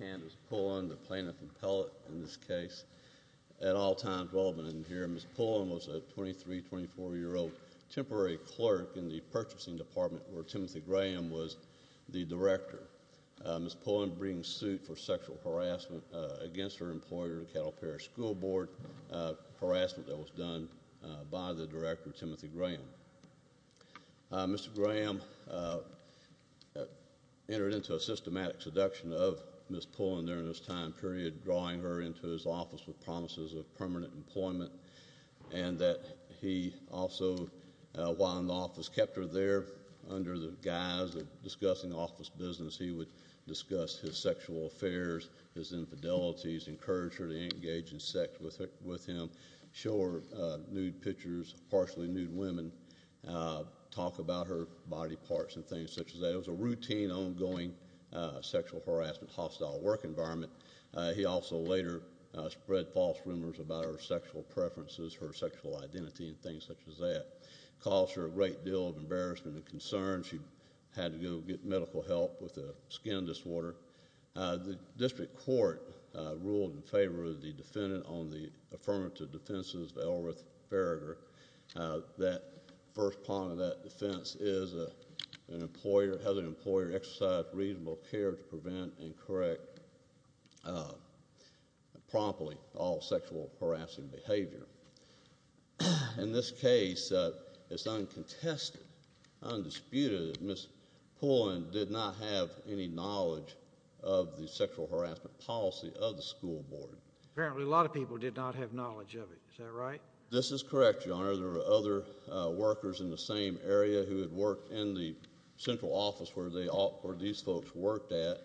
Candice Pullen, Plaintiff and appellate in this case, at all times relevant in the hearing. Candice Pullen was a 23, 24-year-old temporary clerk in the purchasing department where Timothy Graham was the director. Ms. Pullen brings suit for sexual harassment against her employer, Caddo Parish School Board, harassment that was done by the director, Timothy Graham. Mr. Graham entered into a systematic seduction of Ms. Pullen during this time period, drawing her into his office with promises of permanent employment, and that he also, while in the office, kept her there under the guise of discussing office business. He would discuss his sexual affairs, his infidelities, encourage her to engage in sex with him, show her nude pictures, partially nude women, talk about her body parts and things such as that. It was a routine, ongoing sexual harassment, hostile work environment. He also later spread false rumors about her sexual preferences, her sexual identity, and things such as that. Caused her a great deal of embarrassment and concern. She had to go get medical help with a skin disorder. The district court ruled in favor of the defendant on the affirmative defenses of Elrith Ferreger. That first part of that defense is an employer, has an employer exercise reasonable care to prevent and correct promptly all sexual harassing behavior. In this case, it's uncontested, undisputed, Ms. Pullen did not have any knowledge of the sexual harassment policy of the school board. Apparently a lot of people did not have knowledge of it, is that right? This is correct, your honor. There were other workers in the same area who had worked in the central office where these folks worked at.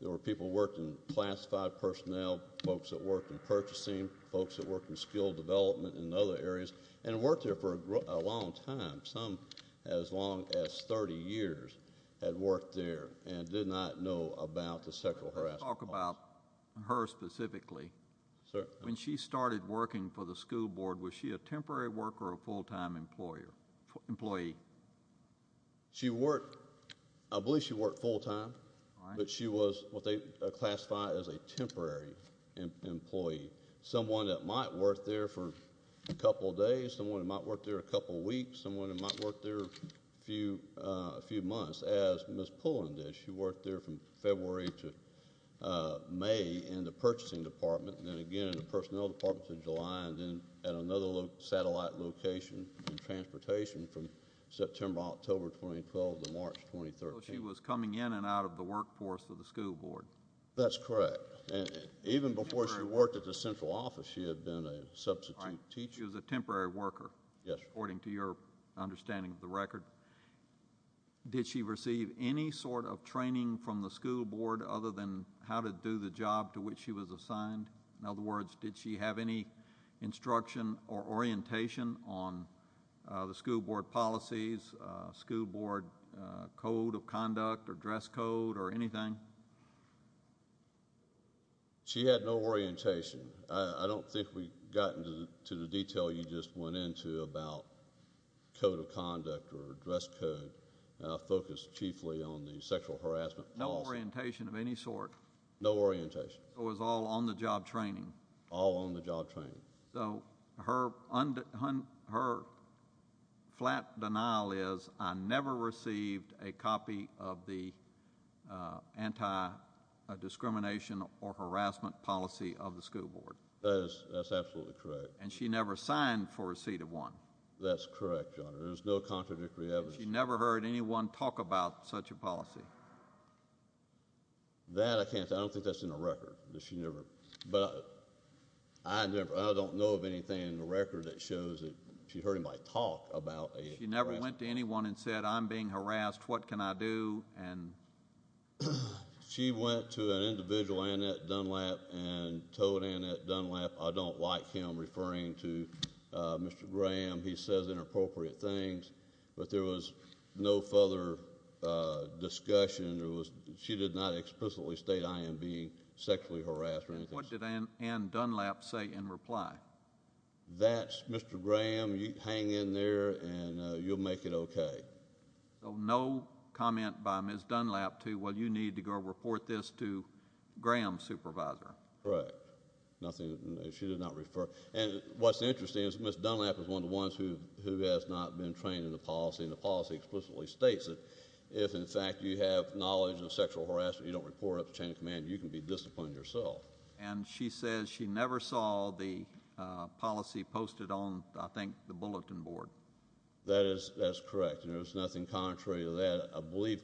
There were people who worked in classified personnel, folks that worked in purchasing, folks that worked in skill development and other areas, and worked there for a long time. Some as long as 30 years had worked there and did not know about the sexual harassment. Let's talk about her specifically. Sir. When she started working for the school board, was she a temporary worker or a full-time employee? She worked, I believe she worked full-time, but she was what they classify as a temporary employee. Someone that might work there for a couple days, someone that might work there a couple weeks, someone that might work there a few months, as Ms. Pullen did. She worked there from February to May in the purchasing department, then again in the personnel department in July, and then at another satellite location in transportation from September, October 2012 to March 2013. So she was coming in and out of the workforce of the school board? That's correct. Even before she worked at the central office, she had been a substitute teacher. She was a temporary worker, according to your understanding of the record. Did she receive any sort of training from the school board other than how to do the job to which she was assigned? In other words, did she have any instruction or orientation on the school board policies, school board code of conduct, or dress code, or anything? She had no orientation. I don't think we got into the detail you just went into about code of conduct or dress code, focused chiefly on the sexual harassment policy. No orientation of any sort? No orientation. So it was all on-the-job training? All on-the-job training. So her flat denial is, I never received a copy of the anti-discrimination or harassment policy of the school board? That is absolutely correct. And she never signed for a seat of one? That's correct, your honor. There's no contradictory evidence. She never heard anyone talk about such a policy? No. That I can't say. I don't think that's in the record. I don't know of anything in the record that shows that she heard anybody talk about harassment. She never went to anyone and said, I'm being harassed, what can I do? She went to an individual, Annette Dunlap, and told Annette Dunlap, I don't like him referring to she did not explicitly state I am being sexually harassed or anything. What did Annette Dunlap say in reply? That's Mr. Graham, you hang in there and you'll make it okay. So no comment by Ms. Dunlap to, well, you need to go report this to Graham's supervisor? Correct. Nothing, she did not refer. And what's interesting is Ms. Dunlap is one of the ones who has not been trained in the policy, and the policy explicitly states that if, in fact, you have knowledge of sexual harassment, you don't report it up to chain of command, you can be disciplined yourself. And she says she never saw the policy posted on, I think, the bulletin board. That is correct, and there's nothing contrary to that. I believe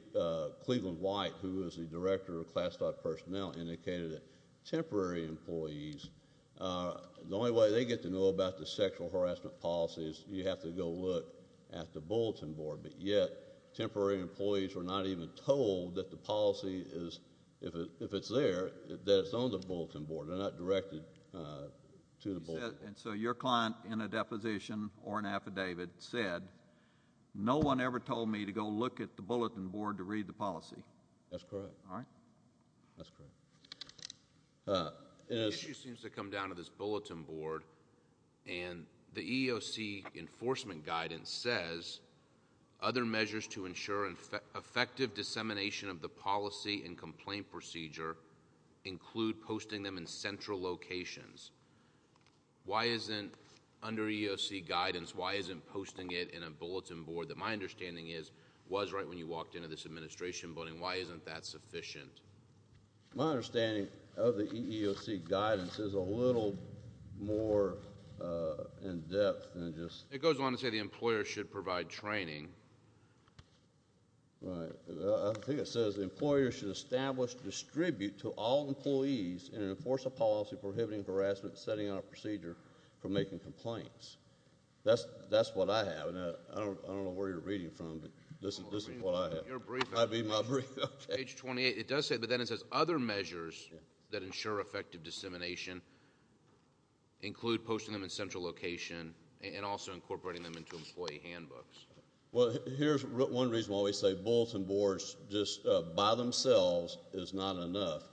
Cleveland White, who is the director of ClassDot personnel, indicated that temporary employees, the only way they get to know about the sexual harassment policy is you have to go look at the bulletin board. But yet, temporary employees were not even told that the policy is, if it's there, that it's on the bulletin board. They're not directed to the bulletin board. And so your client in a deposition or an affidavit said, no one ever told me to go look at the bulletin board to read the policy? That's correct. All right. That's correct. The issue seems to come down to this bulletin board. And the EEOC enforcement guidance says other measures to ensure effective dissemination of the policy and complaint procedure include posting them in central locations. Why isn't, under EEOC guidance, why isn't posting it in a bulletin board that my understanding is was right when you walked into this administration building, why isn't that sufficient? My understanding of the EEOC guidance is a little more in-depth than just— It goes on to say the employer should provide training. Right. I think it says the employer should establish, distribute to all employees, and enforce a policy prohibiting harassment setting on a procedure for making complaints. That's what I have. And I don't know where you're reading from, but this is what I have. Your briefing. I read my briefing. Page 28. But then it says other measures that ensure effective dissemination include posting them in central location and also incorporating them into employee handbooks. Well, here's one reason why we say bulletin boards just by themselves is not enough.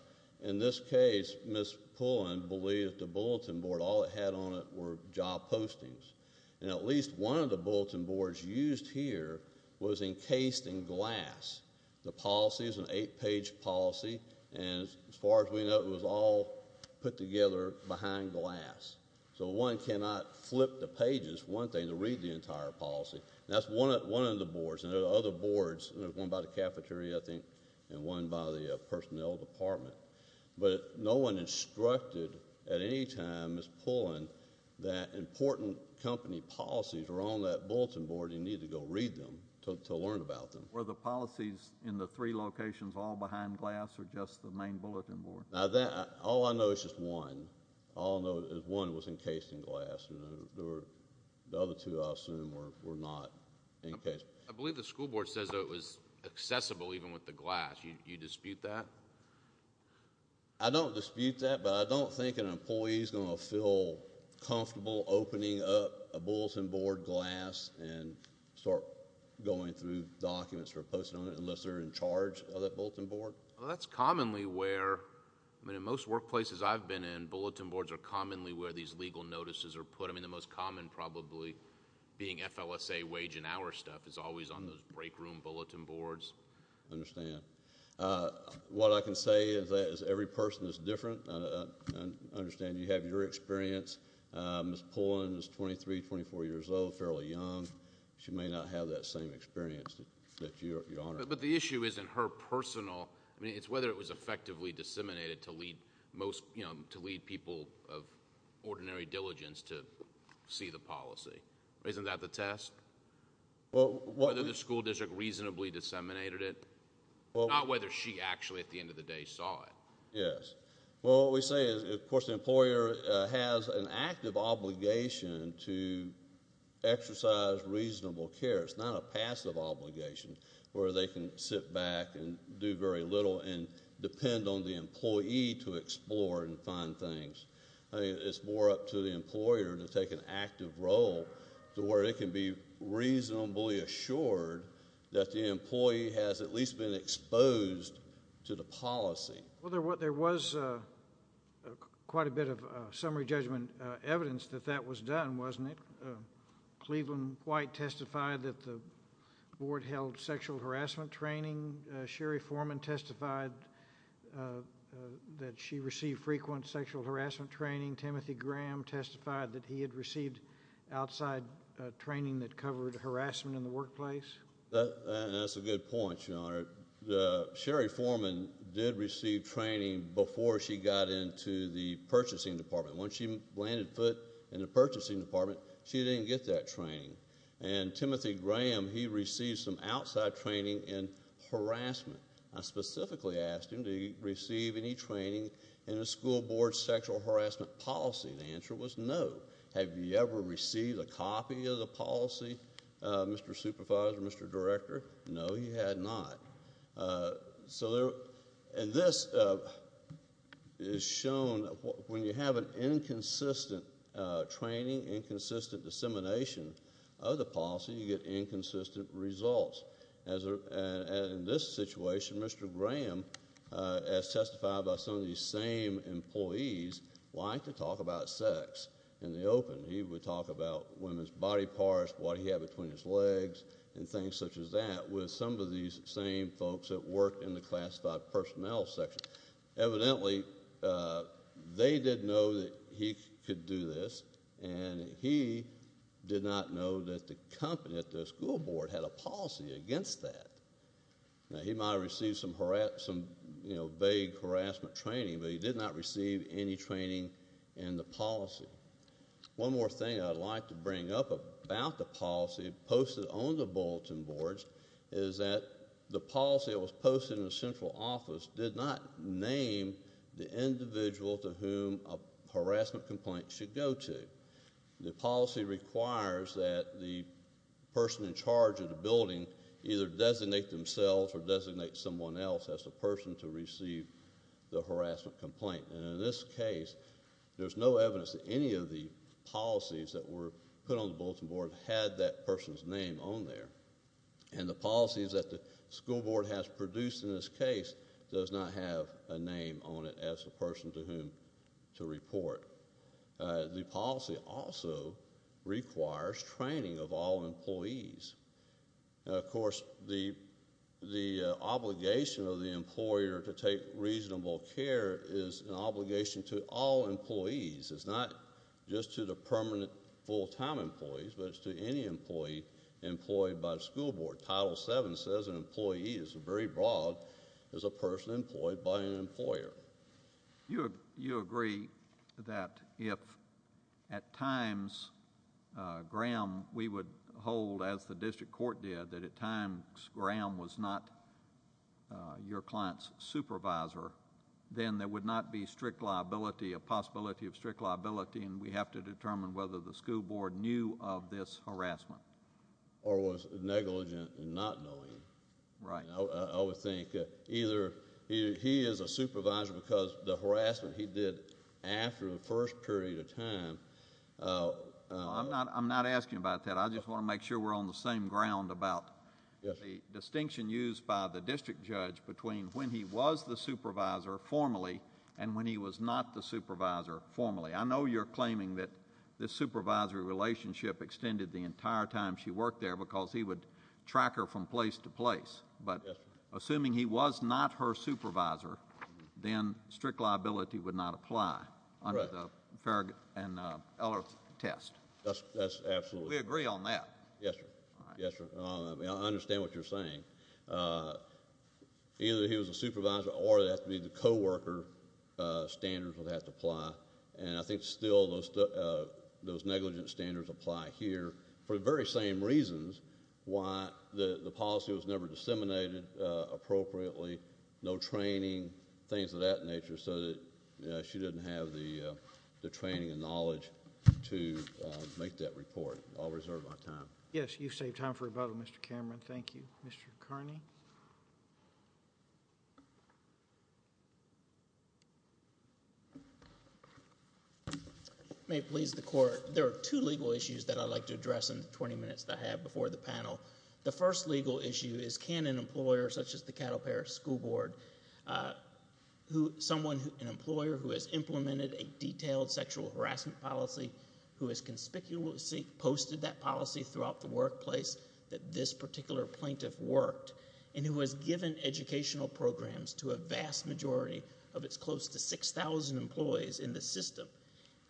In this case, Ms. Pullen believed the bulletin board, all it had on it were job postings. And at least one of the bulletin boards used here was encased in glass. The policy is an eight-page policy. And as far as we know, it was all put together behind glass. So one cannot flip the pages, one thing, to read the entire policy. That's one of the boards. And there are other boards. There's one by the cafeteria, I think, and one by the personnel department. But no one instructed at any time, Ms. Pullen, that important company policies are on that bulletin board. You need to go read them to learn about them. Were the policies in the three locations all behind glass or just the main bulletin board? Now, all I know is just one. All I know is one was encased in glass. The other two, I assume, were not encased. I believe the school board says it was accessible even with the glass. Do you dispute that? I don't dispute that. But I don't think an employee is going to feel comfortable opening up a bulletin board glass and start going through documents or posting on it unless they're in charge of that bulletin board. Well, that's commonly where, I mean, in most workplaces I've been in, bulletin boards are commonly where these legal notices are put. I mean, the most common probably being FLSA wage and hour stuff is always on those break room bulletin boards. I understand. What I can say is that every person is different. I understand you have your experience. Ms. Pullen is 23, 24 years old, fairly young. She may not have that same experience that you're on. But the issue isn't her personal. I mean, it's whether it was effectively disseminated to lead most, you know, to lead people of ordinary diligence to see the policy. Isn't that the test? Whether the school district reasonably disseminated it. Not whether she actually, at the end of the day, saw it. Yes. Well, what we say is, of course, the employer has an active obligation to exercise reasonable care. It's not a passive obligation where they can sit back and do very little and depend on the employee to explore and find things. I mean, it's more up to the employer to take an active role to where it can be reasonably assured that the employee has at least been exposed to the policy. Well, there was quite a bit of summary judgment evidence that that was done, wasn't it? Cleveland White testified that the board held sexual harassment training. Sherry Foreman testified that she received frequent sexual harassment training. Timothy Graham testified that he had received outside training that covered harassment in the workplace. That's a good point, Your Honor. Sherry Foreman did receive training before she got into the purchasing department. Once she landed foot in the purchasing department, she didn't get that training. And Timothy Graham, he received some outside training in harassment. I specifically asked him to receive any training in the school board sexual harassment policy. The answer was no. Have you ever received a copy of the policy, Mr. Supervisor, Mr. Director? No, he had not. So, and this is shown when you have an inconsistent training, inconsistent dissemination of the policy, you get inconsistent results. As in this situation, Mr. Graham, as testified by some of these same employees, liked to talk about sex in the open. He would talk about women's body parts, what he had between his legs and things such as that with some of these same folks that worked in the classified personnel section. Evidently, they didn't know that he could do this, and he did not know that the company at the school board had a policy against that. Now, he might have received some, you know, vague harassment training, but he did not receive any training in the policy. One more thing I'd like to bring up about the policy posted on the bulletin boards is that the policy that was posted in the central office did not name the individual to whom a harassment complaint should go to. The policy requires that the person in charge of the building either designate themselves or designate someone else as the person to receive the harassment complaint. And in this case, there's no evidence that any of the policies that were put on the bulletin board had that person's name on there. And the policies that the school board has produced in this case does not have a name on it as a person to whom to report. The policy also requires training of all employees. Of course, the obligation of the employer to take reasonable care is an obligation to all employees. It's not just to the permanent full-time employees, but it's to any employee employed by the school board. Title VII says an employee is very broad as a person employed by an employer. You agree that if at times, Graham, we would hold as the district court did, that at times, Graham was not your client's supervisor, then there would not be strict liability, a possibility of strict liability, and we have to determine whether the school board knew of this harassment. Or was negligent in not knowing. Right. I would think either he is a supervisor because the harassment he did after the first period of time. I'm not asking about that. I just want to make sure we're on the same ground about the distinction used by the district judge between when he was the supervisor formally and when he was not the supervisor formally. I know you're claiming that this supervisory relationship extended the entire time she worked there because he would track her from place to place, but assuming he was not her supervisor, then strict liability would not apply under the Farragut and Eller test. That's absolutely. We agree on that. Yes, sir. Yes, sir. I understand what you're saying. Either he was a supervisor or it has to be the co-worker standards would have to apply, and I think still those those negligent standards apply here for the very same reasons why the policy was never disseminated appropriately. No training, things of that nature, so that she didn't have the training and knowledge to make that report. I'll reserve my time. Yes, you saved time for rebuttal, Mr. Cameron. Thank you, Mr. Kearney. If it may please the court, there are two legal issues that I'd like to address in the 20 minutes that I have before the panel. The first legal issue is, can an employer such as the Cattle Parish School Board, someone, an employer who has implemented a detailed sexual harassment policy, who has conspicuously posted that policy throughout the workplace that this particular plaintiff worked and who has given educational programs to a vast majority of its close to 6,000 employees in the system,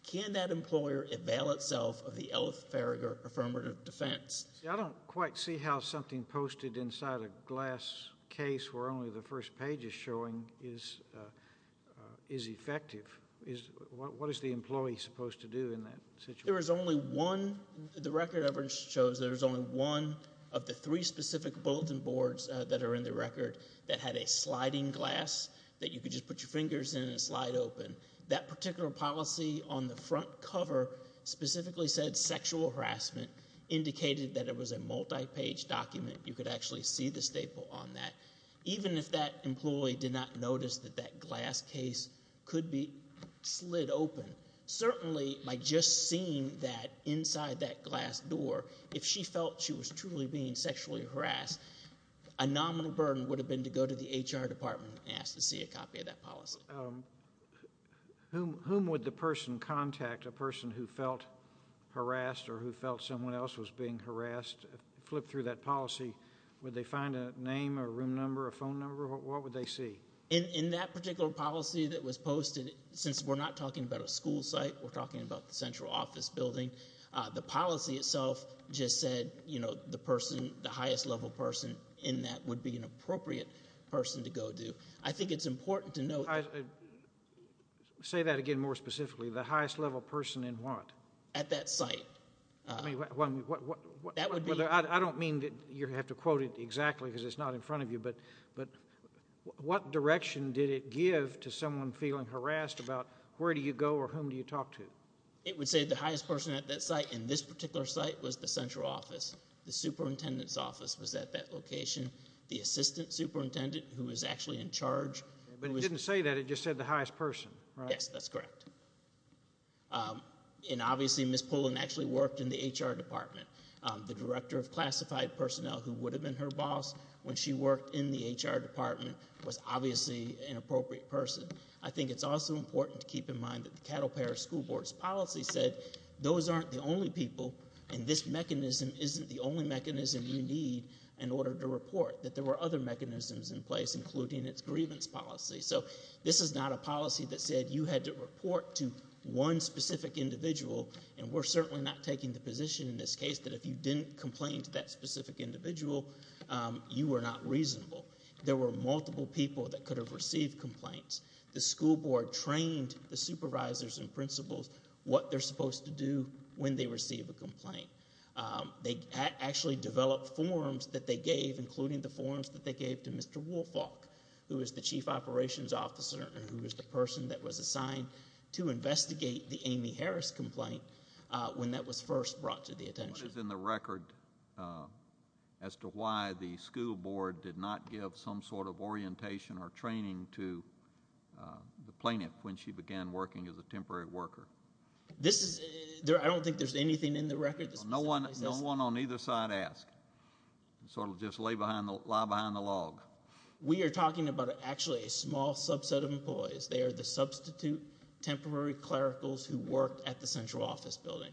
can that employer avail itself of the Ella Farragher affirmative defense? I don't quite see how something posted inside a glass case where only the first page is showing is effective. What is the employee supposed to do in that situation? There is only one, the record evidence shows there's only one of the three specific bulletin boards that are in the record that had a sliding glass that you could just put your fingers in and slide open. That particular policy on the front cover specifically said sexual harassment, indicated that it was a multi-page document. You could actually see the staple on that. Even if that employee did not notice that that glass case could be slid open, certainly by just seeing that inside that glass door, if she felt she was truly being sexually harassed, a nominal burden would have been to go to the HR department and ask to see a copy of that policy. Whom would the person contact, a person who felt harassed or who felt someone else was being harassed, flip through that policy, would they find a name, a room number, a phone number, what would they see? In that particular policy that was posted, since we're not talking about a school site, the policy itself just said, you know, the highest level person in that would be an appropriate person to go to. I think it's important to know... I'd say that again more specifically. The highest level person in what? At that site. I don't mean that you have to quote it exactly because it's not in front of you, but what direction did it give to someone feeling harassed about where do you go or whom do you talk to? It would say the highest person at that site in this particular site was the central office. The superintendent's office was at that location. The assistant superintendent who was actually in charge. But it didn't say that, it just said the highest person, right? Yes, that's correct. And obviously Ms. Pullen actually worked in the HR department. The director of classified personnel who would have been her boss when she worked in the HR department was obviously an appropriate person. I think it's also important to keep in mind that the Cattle Pair School Board's policy said those aren't the only people and this mechanism isn't the only mechanism you need in order to report. That there were other mechanisms in place including its grievance policy. So this is not a policy that said you had to report to one specific individual and we're certainly not taking the position in this case that if you didn't complain to that specific individual, you were not reasonable. There were multiple people that could have received complaints. The school board trained the supervisors and principals what they're supposed to do when they receive a complaint. They actually developed forms that they gave including the forms that they gave to Mr. Woolfolk who was the chief operations officer and who was the person that was assigned to investigate the Amy Harris complaint when that was first brought to the attention. What is in the record as to why the school board did not give some sort of orientation or training to the plaintiff when she began working as a temporary worker? This is, I don't think there's anything in the record. No one on either side asked. Sort of just lie behind the log. We are talking about actually a small subset of employees. They are the substitute temporary clericals who worked at the central office building.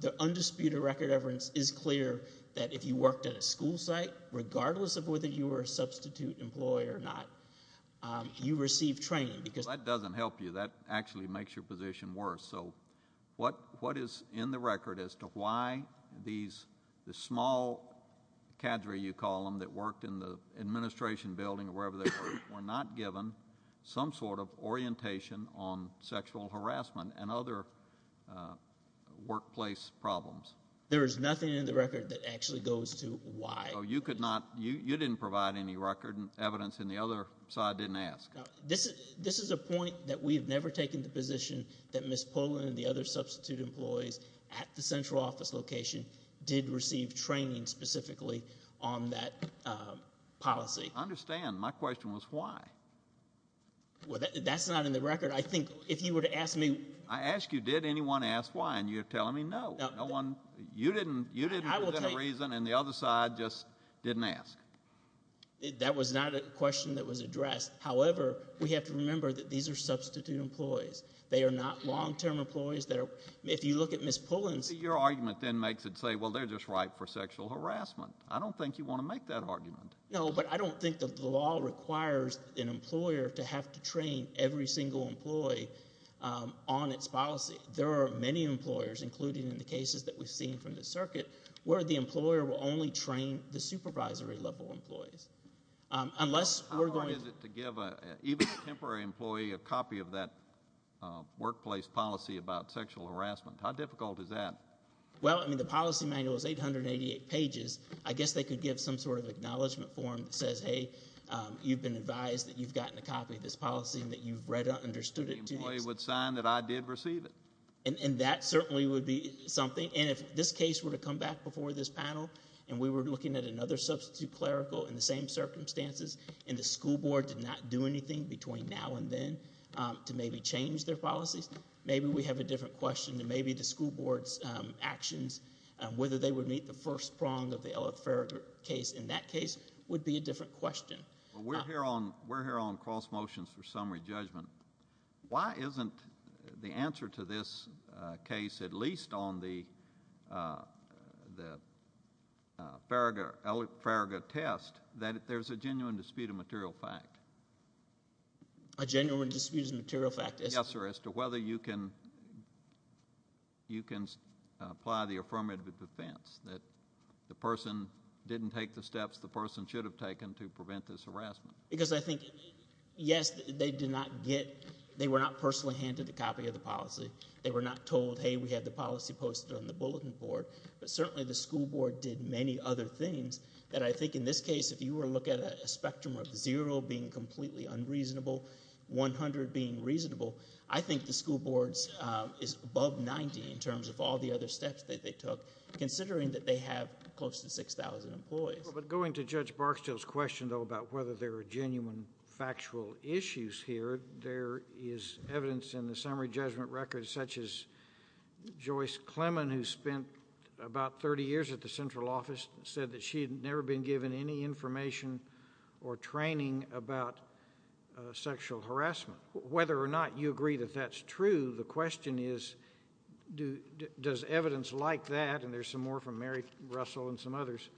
The undisputed record evidence is clear that if you worked at a school site regardless of whether you were a substitute employee or not, you received training because. That doesn't help you. That actually makes your position worse. So what is in the record as to why these, the small cadre you call them that worked in the administration building or wherever they were, were not given some sort of orientation on sexual harassment and other workplace problems? There is nothing in the record that actually goes to why. Oh, you could not, you didn't provide any record evidence and the other side didn't ask. This is a point that we've never taken the position that Ms. Pullen and the other substitute employees at the central office location did receive training specifically on that policy. I understand. My question was why? Well, that's not in the record. I think if you were to ask me. I asked you, did anyone ask why? And you're telling me no, no one. You didn't, you didn't give them a reason and the other side just didn't ask. That was not a question that was addressed. However, we have to remember that these are substitute employees. They are not long-term employees that are, if you look at Ms. Pullen's. Your argument then makes it say, well, they're just ripe for sexual harassment. I don't think you want to make that argument. No, but I don't think that the law requires an employer to have to train every single employee on its policy. There are many employers, including in the cases that we've seen from the circuit, where the employer will only train the supervisory level employees. Unless we're going. How hard is it to give even a temporary employee a copy of that workplace policy about sexual harassment? How difficult is that? Well, I mean, the policy manual is 888 pages. I guess they could give some sort of acknowledgement form that says, hey, you've been advised that you've gotten a copy of this policy and that you've read or understood it. The employee would sign that I did receive it. And that certainly would be something. And if this case were to come back before this panel and we were looking at another substitute clerical in the same circumstances, and the school board did not do anything between now and then to maybe change their policies, maybe we have a different question than maybe the school board's actions, whether they would meet the first prong of the Ella Farragut case in that case would be a different question. We're here on cross motions for summary judgment. Why isn't the answer to this case, at least on the Farragut test, that there's a genuine dispute of material fact? A genuine dispute of material fact? Yes, or as to whether you can apply the affirmative defense that the person didn't take the steps the person should have taken to prevent this harassment. Because I think, yes, they were not personally handed the copy of the policy. They were not told, hey, we have the policy posted on the bulletin board. But certainly the school board did many other things that I think in this case, if you were to look at a spectrum of zero being completely unreasonable, 100 being reasonable, I think the school board is above 90 in terms of all the other steps that they took, considering that they have close to 6,000 employees. But going to Judge Barksdale's question, though, about whether there are genuine factual issues here, there is evidence in the summary judgment record such as Joyce Clemon, who spent about 30 years at the central office, said that she had never been given any information or training about sexual harassment. Whether or not you agree that that's true, the question is, does evidence like that, and there's some more from Mary Russell and some others,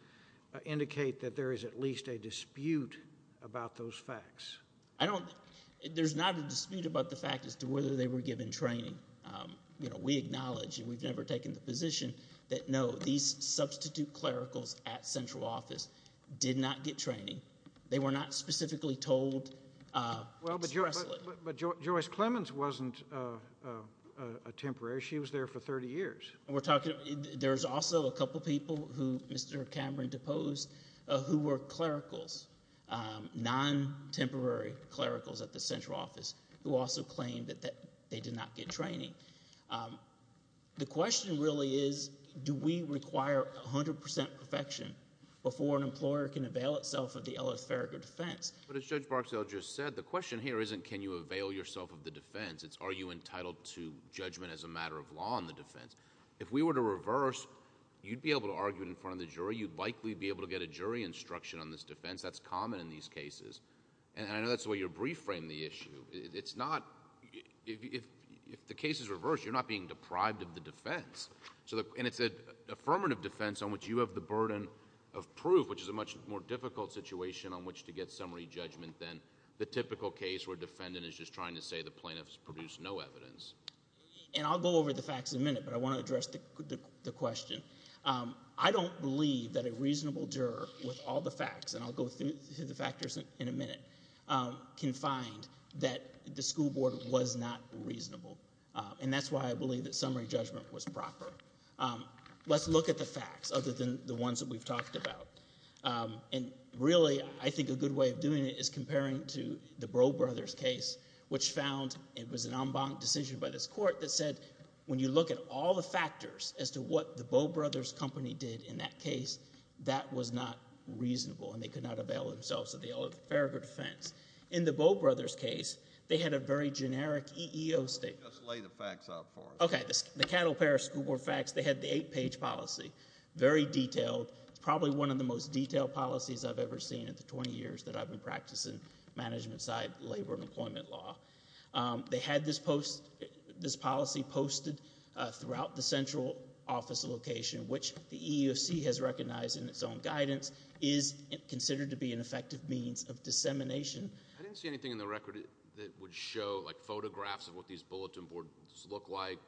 indicate that there is at least a dispute about those facts? I don't, there's not a dispute about the fact as to whether they were given training. You know, we acknowledge, and we've never taken the position, that no, these substitute clericals at central office did not get training. They were not specifically told. Well, but Joyce Clemons wasn't a temporary. She was there for 30 years. We're talking, there's also a couple people who Mr. Cameron deposed who were clericals, non-temporary clericals at the central office who also claimed that they did not get training. The question really is, do we require 100% perfection before an employer can avail itself of the elepharic of defense? But as Judge Barksdale just said, the question here isn't, can you avail yourself of the defense? It's, are you entitled to judgment as a matter of law on the defense? If we were to reverse, you'd be able to argue it in front of the jury. You'd likely be able to get a jury instruction on this defense. That's common in these cases. And I know that's the way you reframe the issue. It's not, if the case is reversed, you're not being deprived of the defense. So, and it's an affirmative defense on which you have the burden of proof, which is a much more difficult situation on which to get summary judgment than the typical case where a defendant is just trying to say the plaintiffs produced no evidence. And I'll go over the facts in a minute, but I want to address the question. I don't believe that a reasonable juror with all the facts, and I'll go through the factors in a minute, can find that the school board was not reasonable. And that's why I believe that summary judgment was proper. Let's look at the facts other than the ones that we've talked about. And really, I think a good way of doing it is comparing to the Bro Brothers case, which found it was an en banc decision by this court that said, when you look at all the factors as to what the Bro Brothers company did in that case, that was not reasonable, and they could not avail themselves of the affirmative defense. In the Bro Brothers case, they had a very generic EEO statement. Just lay the facts out for us. Okay. The Cattle Parish School Board facts, they had the eight-page policy, very detailed. It's probably one of the most detailed policies I've ever seen in the 20 years that I've been practicing management side labor and employment law. They had this policy posted throughout the central office location, which the EEOC has recognized in its own guidance is considered to be an effective means of dissemination. I didn't see anything in the record that would show, like, photographs of what these bulletin boards look like,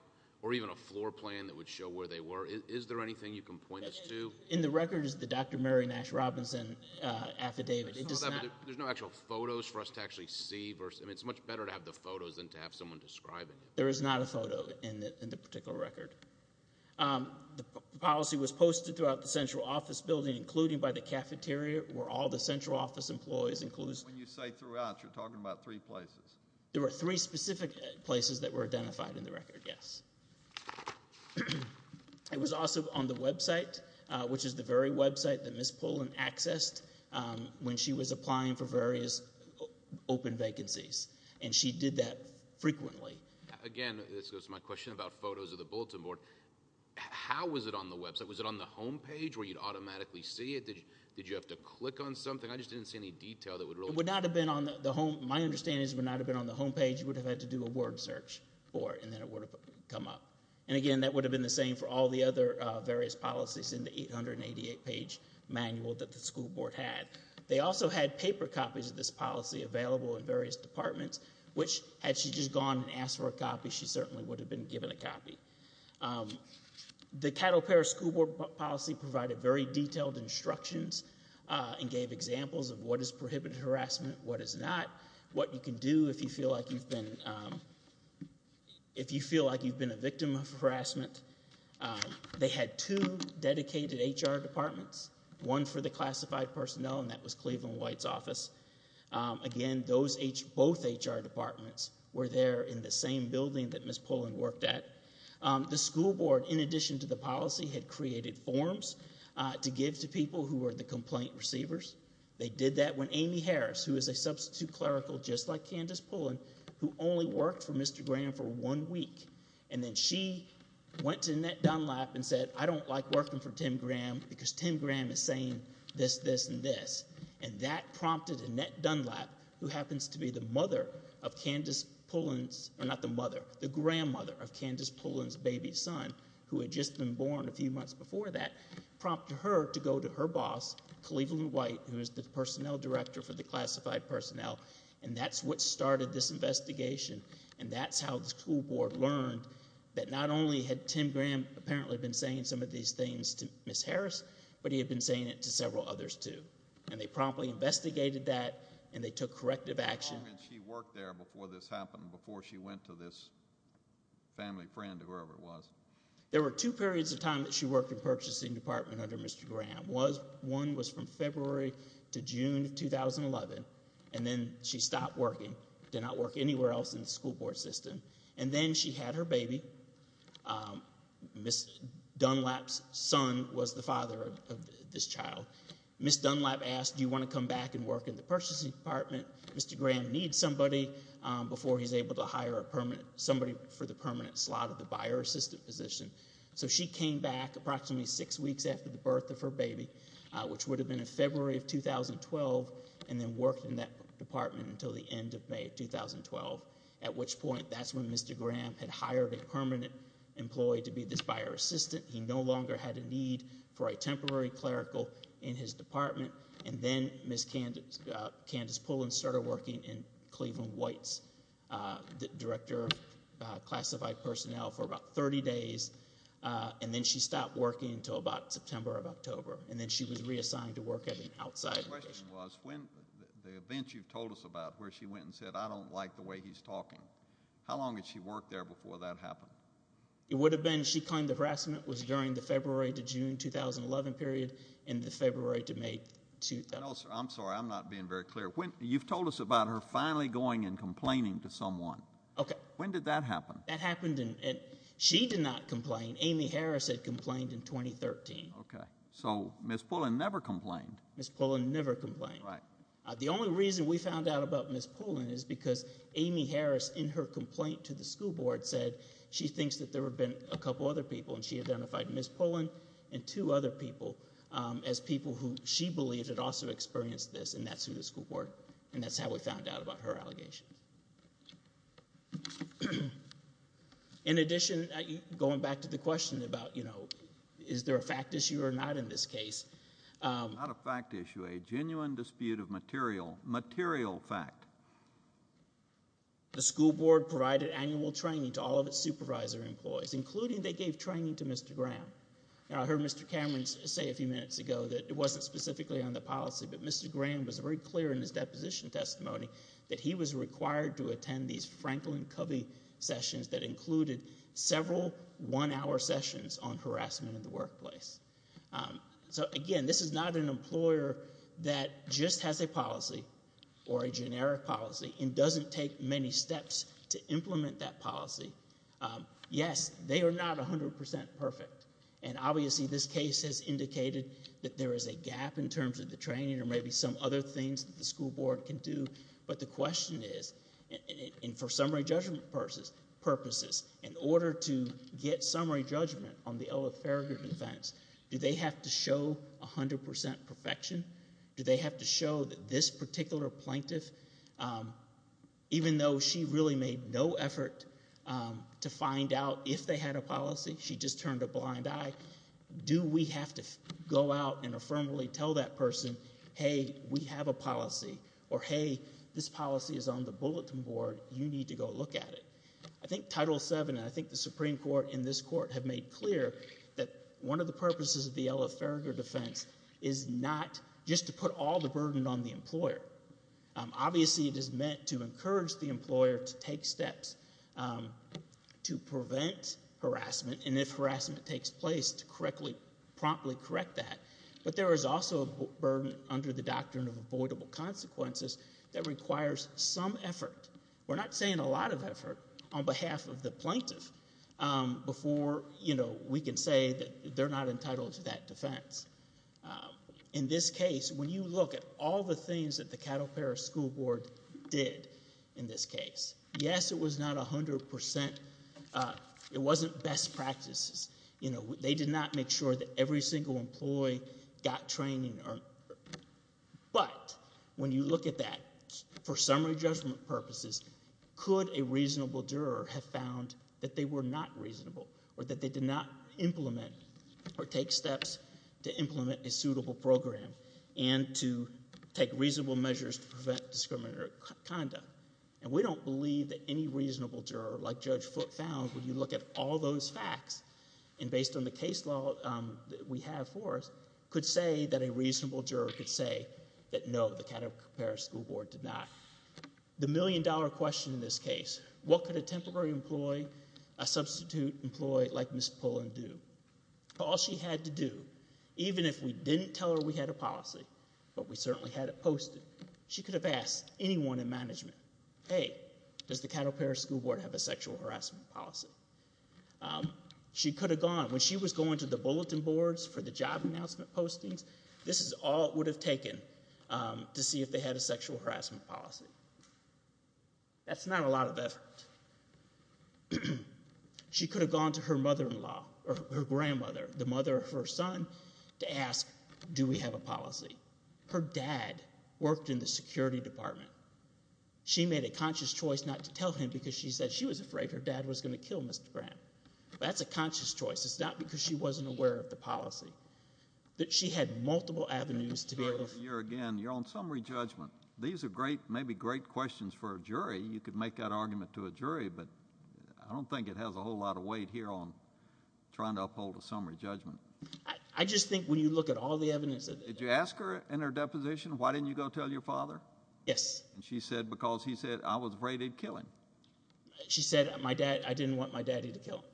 or even a floor plan that would show where they were. Is there anything you can point us to? In the record is the Dr. Mary Nash Robinson affidavit. There's no actual photos for us to actually see. I mean, it's much better to have the photos than to have someone describing it. There is not a photo in the particular record. The policy was posted throughout the central office building, including by the cafeteria, where all the central office employees includes... When you say throughout, you're talking about three places. There were three specific places that were identified in the record, yes. It was also on the website, which is the very website that Ms. Pullen accessed when she was applying for various open vacancies, and she did that frequently. Again, this goes to my question about photos of the bulletin board. How was it on the website? Was it on the homepage where you'd automatically see it? Did you have to click on something? I just didn't see any detail that would really... It would not have been on the home... My understanding is it would not have been on the homepage. You would have had to do a word search for it, and then it would have come up. And again, that would have been the same for all the other various policies in the 888 page manual that the school board had. They also had paper copies of this policy available in various departments, which had she just gone and asked for a copy, she certainly would have been given a copy. The cattle pair school board policy provided very detailed instructions and gave examples of what is prohibited harassment, what is not, what you can do if you feel like you've been... If you feel like you've been a victim of harassment. They had two dedicated HR departments, one for the classified personnel, and that was Cleveland White's office. Again, those... Both HR departments were there in the same building that Ms. Pullen worked at. The school board, in addition to the policy, had created forms to give to people who were the complaint receivers. They did that when Amy Harris, who is a substitute clerical, just like Candace Pullen, who only worked for Mr. Graham for one week, and then she went to Annette Dunlap and said, I don't like working for Tim Graham because Tim Graham is saying this, this, and this. And that prompted Annette Dunlap, who happens to be the mother of Candace Pullen's... Not the mother, the grandmother of Candace Pullen's baby son, who had just been born a few months before that, prompt her to go to her boss, Cleveland White, who is the personnel director for the classified personnel. And that's what started this investigation. And that's how the school board learned that not only had Tim Graham apparently been saying some of these things to Ms. Harris, but he had been saying it to several others too. And they promptly investigated that and they took corrective action. The moment she worked there before this happened, before she went to this family friend, whoever it was. There were two periods of time that she worked in purchasing department under Mr. Graham. One was from February to June of 2011. And then she stopped working, did not work anywhere else in the school board system. And then she had her baby. Ms. Dunlap's son was the father of this child. Ms. Dunlap asked, do you want to come back and work in the purchasing department? Mr. Graham needs somebody before he's able to hire a permanent, somebody for the permanent slot of the buyer assistant position. So she came back approximately six weeks after the birth of her baby, which would have been in February of 2012, and then worked in that department until the end of May of 2012. At which point, that's when Mr. Graham had hired a permanent employee to be this buyer assistant. He no longer had a need for a temporary clerical in his department. And then Ms. Candace Pullins started working in Cleveland White's director of classified personnel for about 30 days. And then she stopped working until about September of October. And then she was reassigned to work at an outside location. My question was, when the events you've told us about where she went and said, I don't like the way he's talking. How long did she work there before that happened? It would have been, she claimed the harassment was during the February to June 2011 period and the February to May 2012. I'm sorry, I'm not being very clear. You've told us about her finally going and complaining to someone. Okay. When did that happen? That happened and she did not complain. Amy Harris had complained in 2013. Okay. So Ms. Pullin never complained. Ms. Pullin never complained. Right. The only reason we found out about Ms. Pullin is because Amy Harris in her complaint to the school board said she thinks that there have been a couple other people. And she identified Ms. Pullin and two other people as people who she believed had also experienced this. And that's who the school board, and that's how we found out about her allegations. In addition, going back to the question about, you know, is there a fact issue or not in this case? Not a fact issue, a genuine dispute of material, material fact. The school board provided annual training to all of its supervisor employees, including they gave training to Mr. Graham. And I heard Mr. Cameron say a few minutes ago that it wasn't specifically on the policy, but Mr. Graham was very clear in his deposition testimony that he was required to attend these Franklin Covey sessions that included several one-hour sessions on harassment in the workplace. So again, this is not an employer that just has a policy or a generic policy and doesn't take many steps to implement that policy. Yes, they are not 100% perfect. And obviously, this case has indicated that there is a gap in terms of the training or maybe some other things that the school board can do. But the question is, and for summary judgment purposes, in order to get summary judgment on the Ella Farragut offense, do they have to show 100% perfection? Do they have to show that this particular plaintiff, even though she really made no effort to find out if they had a policy, she just turned a blind eye, do we have to go out and affirmatively tell that person, hey, we have a policy or, hey, this policy is on the bulletin board. You need to go look at it. I think Title VII and I think the Supreme Court in this court have made clear that one of the purposes of the Ella Farragut offense is not just to put all the burden on the employer. Obviously, it is meant to encourage the employer to take steps to prevent harassment. And if harassment takes place to promptly correct that, there is also a burden under the doctrine of avoidable consequences that requires some effort. We're not saying a lot of effort on behalf of the plaintiff before we can say that they're not entitled to that defense. In this case, when you look at all the things that the Cattle Parish School Board did in this case, yes, it was not 100%. It wasn't best practices. They did not make sure that every single employee got training. But when you look at that, for summary judgment purposes, could a reasonable juror have found that they were not reasonable or that they did not implement or take steps to implement a suitable program and to take reasonable measures to prevent discriminatory conduct? And we don't believe that any reasonable juror like Judge Foote found when you look at all those facts and based on the case law we have for us, could say that a reasonable juror could say that no, the Cattle Parish School Board did not. The million-dollar question in this case, what could a temporary employee, a substitute employee like Ms. Pullen do? All she had to do, even if we didn't tell her we had a policy, but we certainly had it posted, she could have asked anyone in management, hey, does the Cattle Parish School Board have a sexual harassment policy? She could have gone, when she was going to the bulletin boards for the job announcement postings, this is all it would have taken to see if they had a sexual harassment policy. That's not a lot of effort. She could have gone to her mother-in-law or her grandmother, the mother of her son, to ask, do we have a policy? Her dad worked in the security department. She made a conscious choice not to tell him because she said she was afraid her dad was going to kill Mr. Graham. That's a conscious choice. It's not because she wasn't aware of the policy, that she had multiple avenues to be able to- Here again, you're on summary judgment. These are great, maybe great questions for a jury. You could make that argument to a jury, but I don't think it has a whole lot of weight here on trying to uphold a summary judgment. I just think when you look at all the evidence- Did you ask her in her deposition, why didn't you go tell your father? Yes. And she said, because he said I was afraid he'd kill him. She said, my dad, I didn't want my daddy to kill him.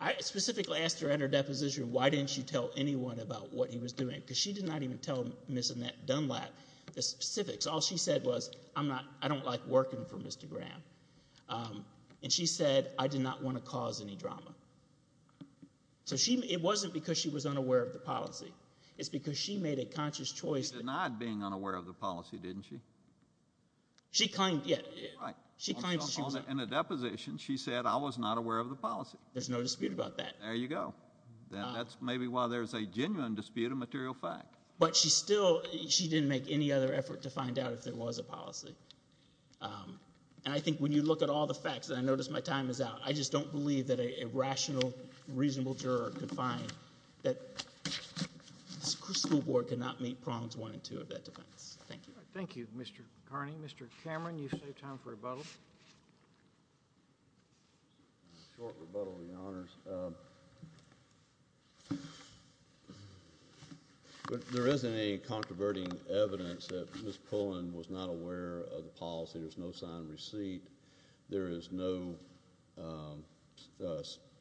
I specifically asked her in her deposition, why didn't you tell anyone about what he was doing? Because she did not even tell Ms. Annette Dunlap the specifics. All she said was, I'm not, I don't like working for Mr. Graham. And she said, I did not want to cause any drama. So she, it wasn't because she was unaware of the policy. It's because she made a conscious choice- She denied being unaware of the policy, didn't she? She claimed- Yeah, she claims- In the deposition, she said I was not aware of the policy. There's no dispute about that. There you go. That's maybe why there's a genuine dispute of material facts. But she still, she didn't make any other effort to find out if there was a policy. And I think when you look at all the facts, and I notice my time is out, I just don't believe that a rational, reasonable juror could find that the school board could not meet prongs one and two of that defense. Thank you. Thank you, Mr. Carney. Mr. Cameron, you've saved time for rebuttal. A short rebuttal, your honors. There isn't any controverting evidence that Ms. Pullen was not aware of the policy. There's no signed receipt. There is no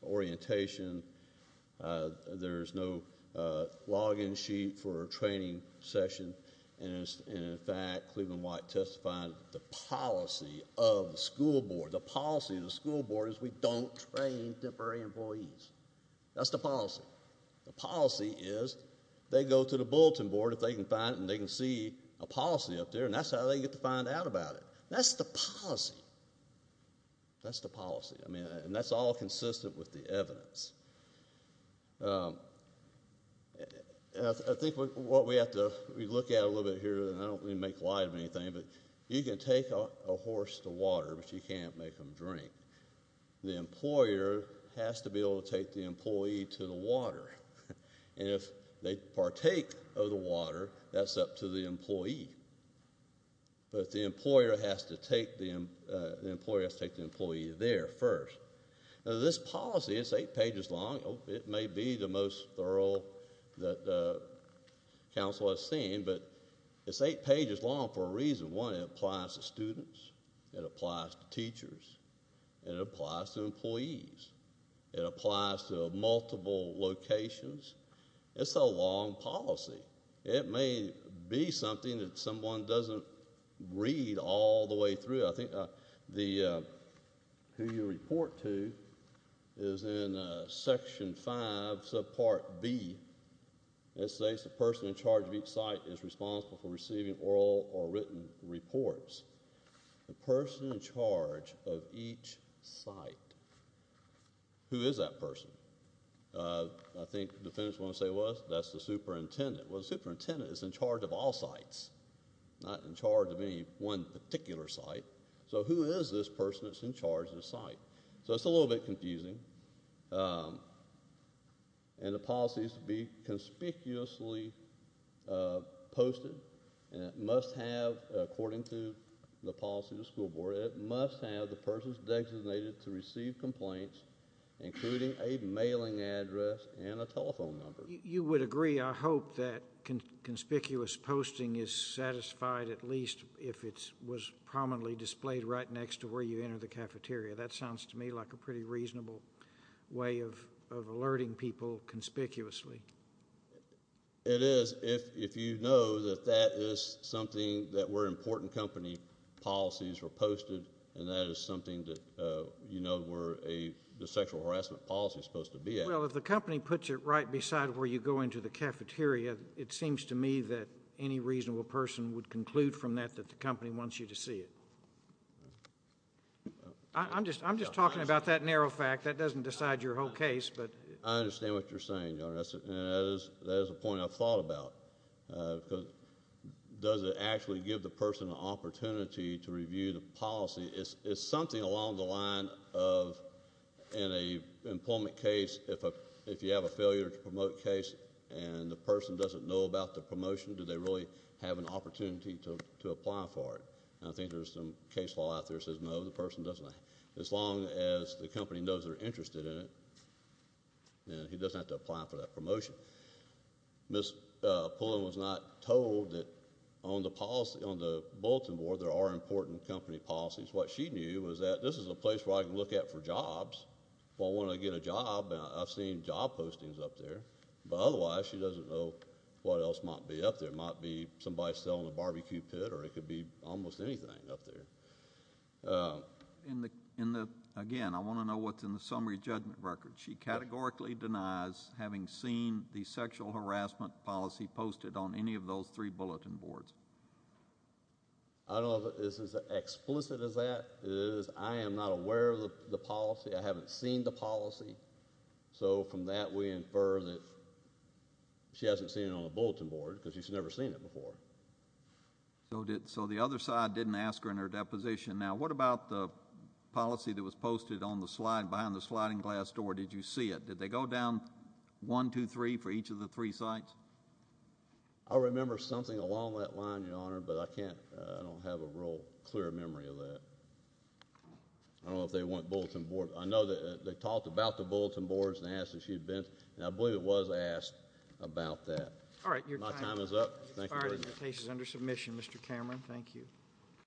orientation. There's no login sheet for a training session. And in fact, Cleveland White testified the policy of the school board. The policy of the school board is we don't train temporary employees. That's the policy. The policy is they go to the bulletin board if they can find it and they can see a policy up there. And that's how they get to find out about it. That's the policy. That's the policy. I mean, and that's all consistent with the evidence. I think what we have to, we look at a little bit here and I don't really make light of anything, you can take a horse to water, but you can't make them drink. The employer has to be able to take the employee to the water. And if they partake of the water, that's up to the employee. But the employer has to take the employee there first. Now, this policy is eight pages long. It may be the most thorough that counsel has seen, but it's eight pages long for a reason. One, it applies to students. It applies to teachers. It applies to employees. It applies to multiple locations. It's a long policy. It may be something that someone doesn't read all the way through. I think the, who you report to is in section five, subpart B. It says the person in charge of each site is responsible for receiving oral or written reports. The person in charge of each site, who is that person? I think the defendants want to say, well, that's the superintendent. Well, the superintendent is in charge of all sites, not in charge of any one particular site. So who is this person that's in charge of the site? So it's a little bit confusing. And the policy is to be conspicuously uh posted and it must have, according to the policy, the school board, it must have the person's designated to receive complaints, including a mailing address and a telephone number. You would agree, I hope, that conspicuous posting is satisfied at least if it was prominently displayed right next to where you enter the cafeteria. That sounds to me like a pretty reasonable way of alerting people conspicuously. It is. If you know that that is something that where important company policies were posted and that is something that, uh, you know, where a sexual harassment policy is supposed to be at. Well, if the company puts it right beside where you go into the cafeteria, it seems to me that any reasonable person would conclude from that that the company wants you to see it. I'm just, I'm just talking about that narrow fact. That doesn't decide your whole case, but I understand what you're saying. And that is a point I've thought about. Does it actually give the person an opportunity to review the policy? Is something along the line of in a employment case, if you have a failure to promote case and the person doesn't know about the promotion, do they really have an opportunity to apply for it? And I think there's some case law out there that says, no, the person doesn't. As long as the company knows they're interested in it, then he doesn't have to apply for that promotion. Miss Pullen was not told that on the policy, on the bulletin board, there are important company policies. What she knew was that this is a place where I can look at for jobs. Well, when I get a job, I've seen job postings up there, but otherwise she doesn't know what else might be up there. It might be somebody selling a barbecue pit or it could be almost anything up there. In the, in the, again, I want to know what's in the summary judgment record. She categorically denies having seen the sexual harassment policy posted on any of those three bulletin boards. I don't know if this is explicit as that. It is. I am not aware of the policy. I haven't seen the policy. So from that, we infer that she hasn't seen it on the bulletin board because she's never seen it before. So the other side didn't ask her in her deposition. Now, what about the policy that was posted on the slide behind the sliding glass door? Did you see it? Did they go down one, two, three for each of the three sites? I remember something along that line, Your Honor, but I can't, I don't have a real clear memory of that. I don't know if they went bulletin board. I know that they talked about the bulletin boards and asked if she'd been, and I believe it was asked about that. All right, your time is up. Thank you. Your case is under submission, Mr. Cameron. Thank you.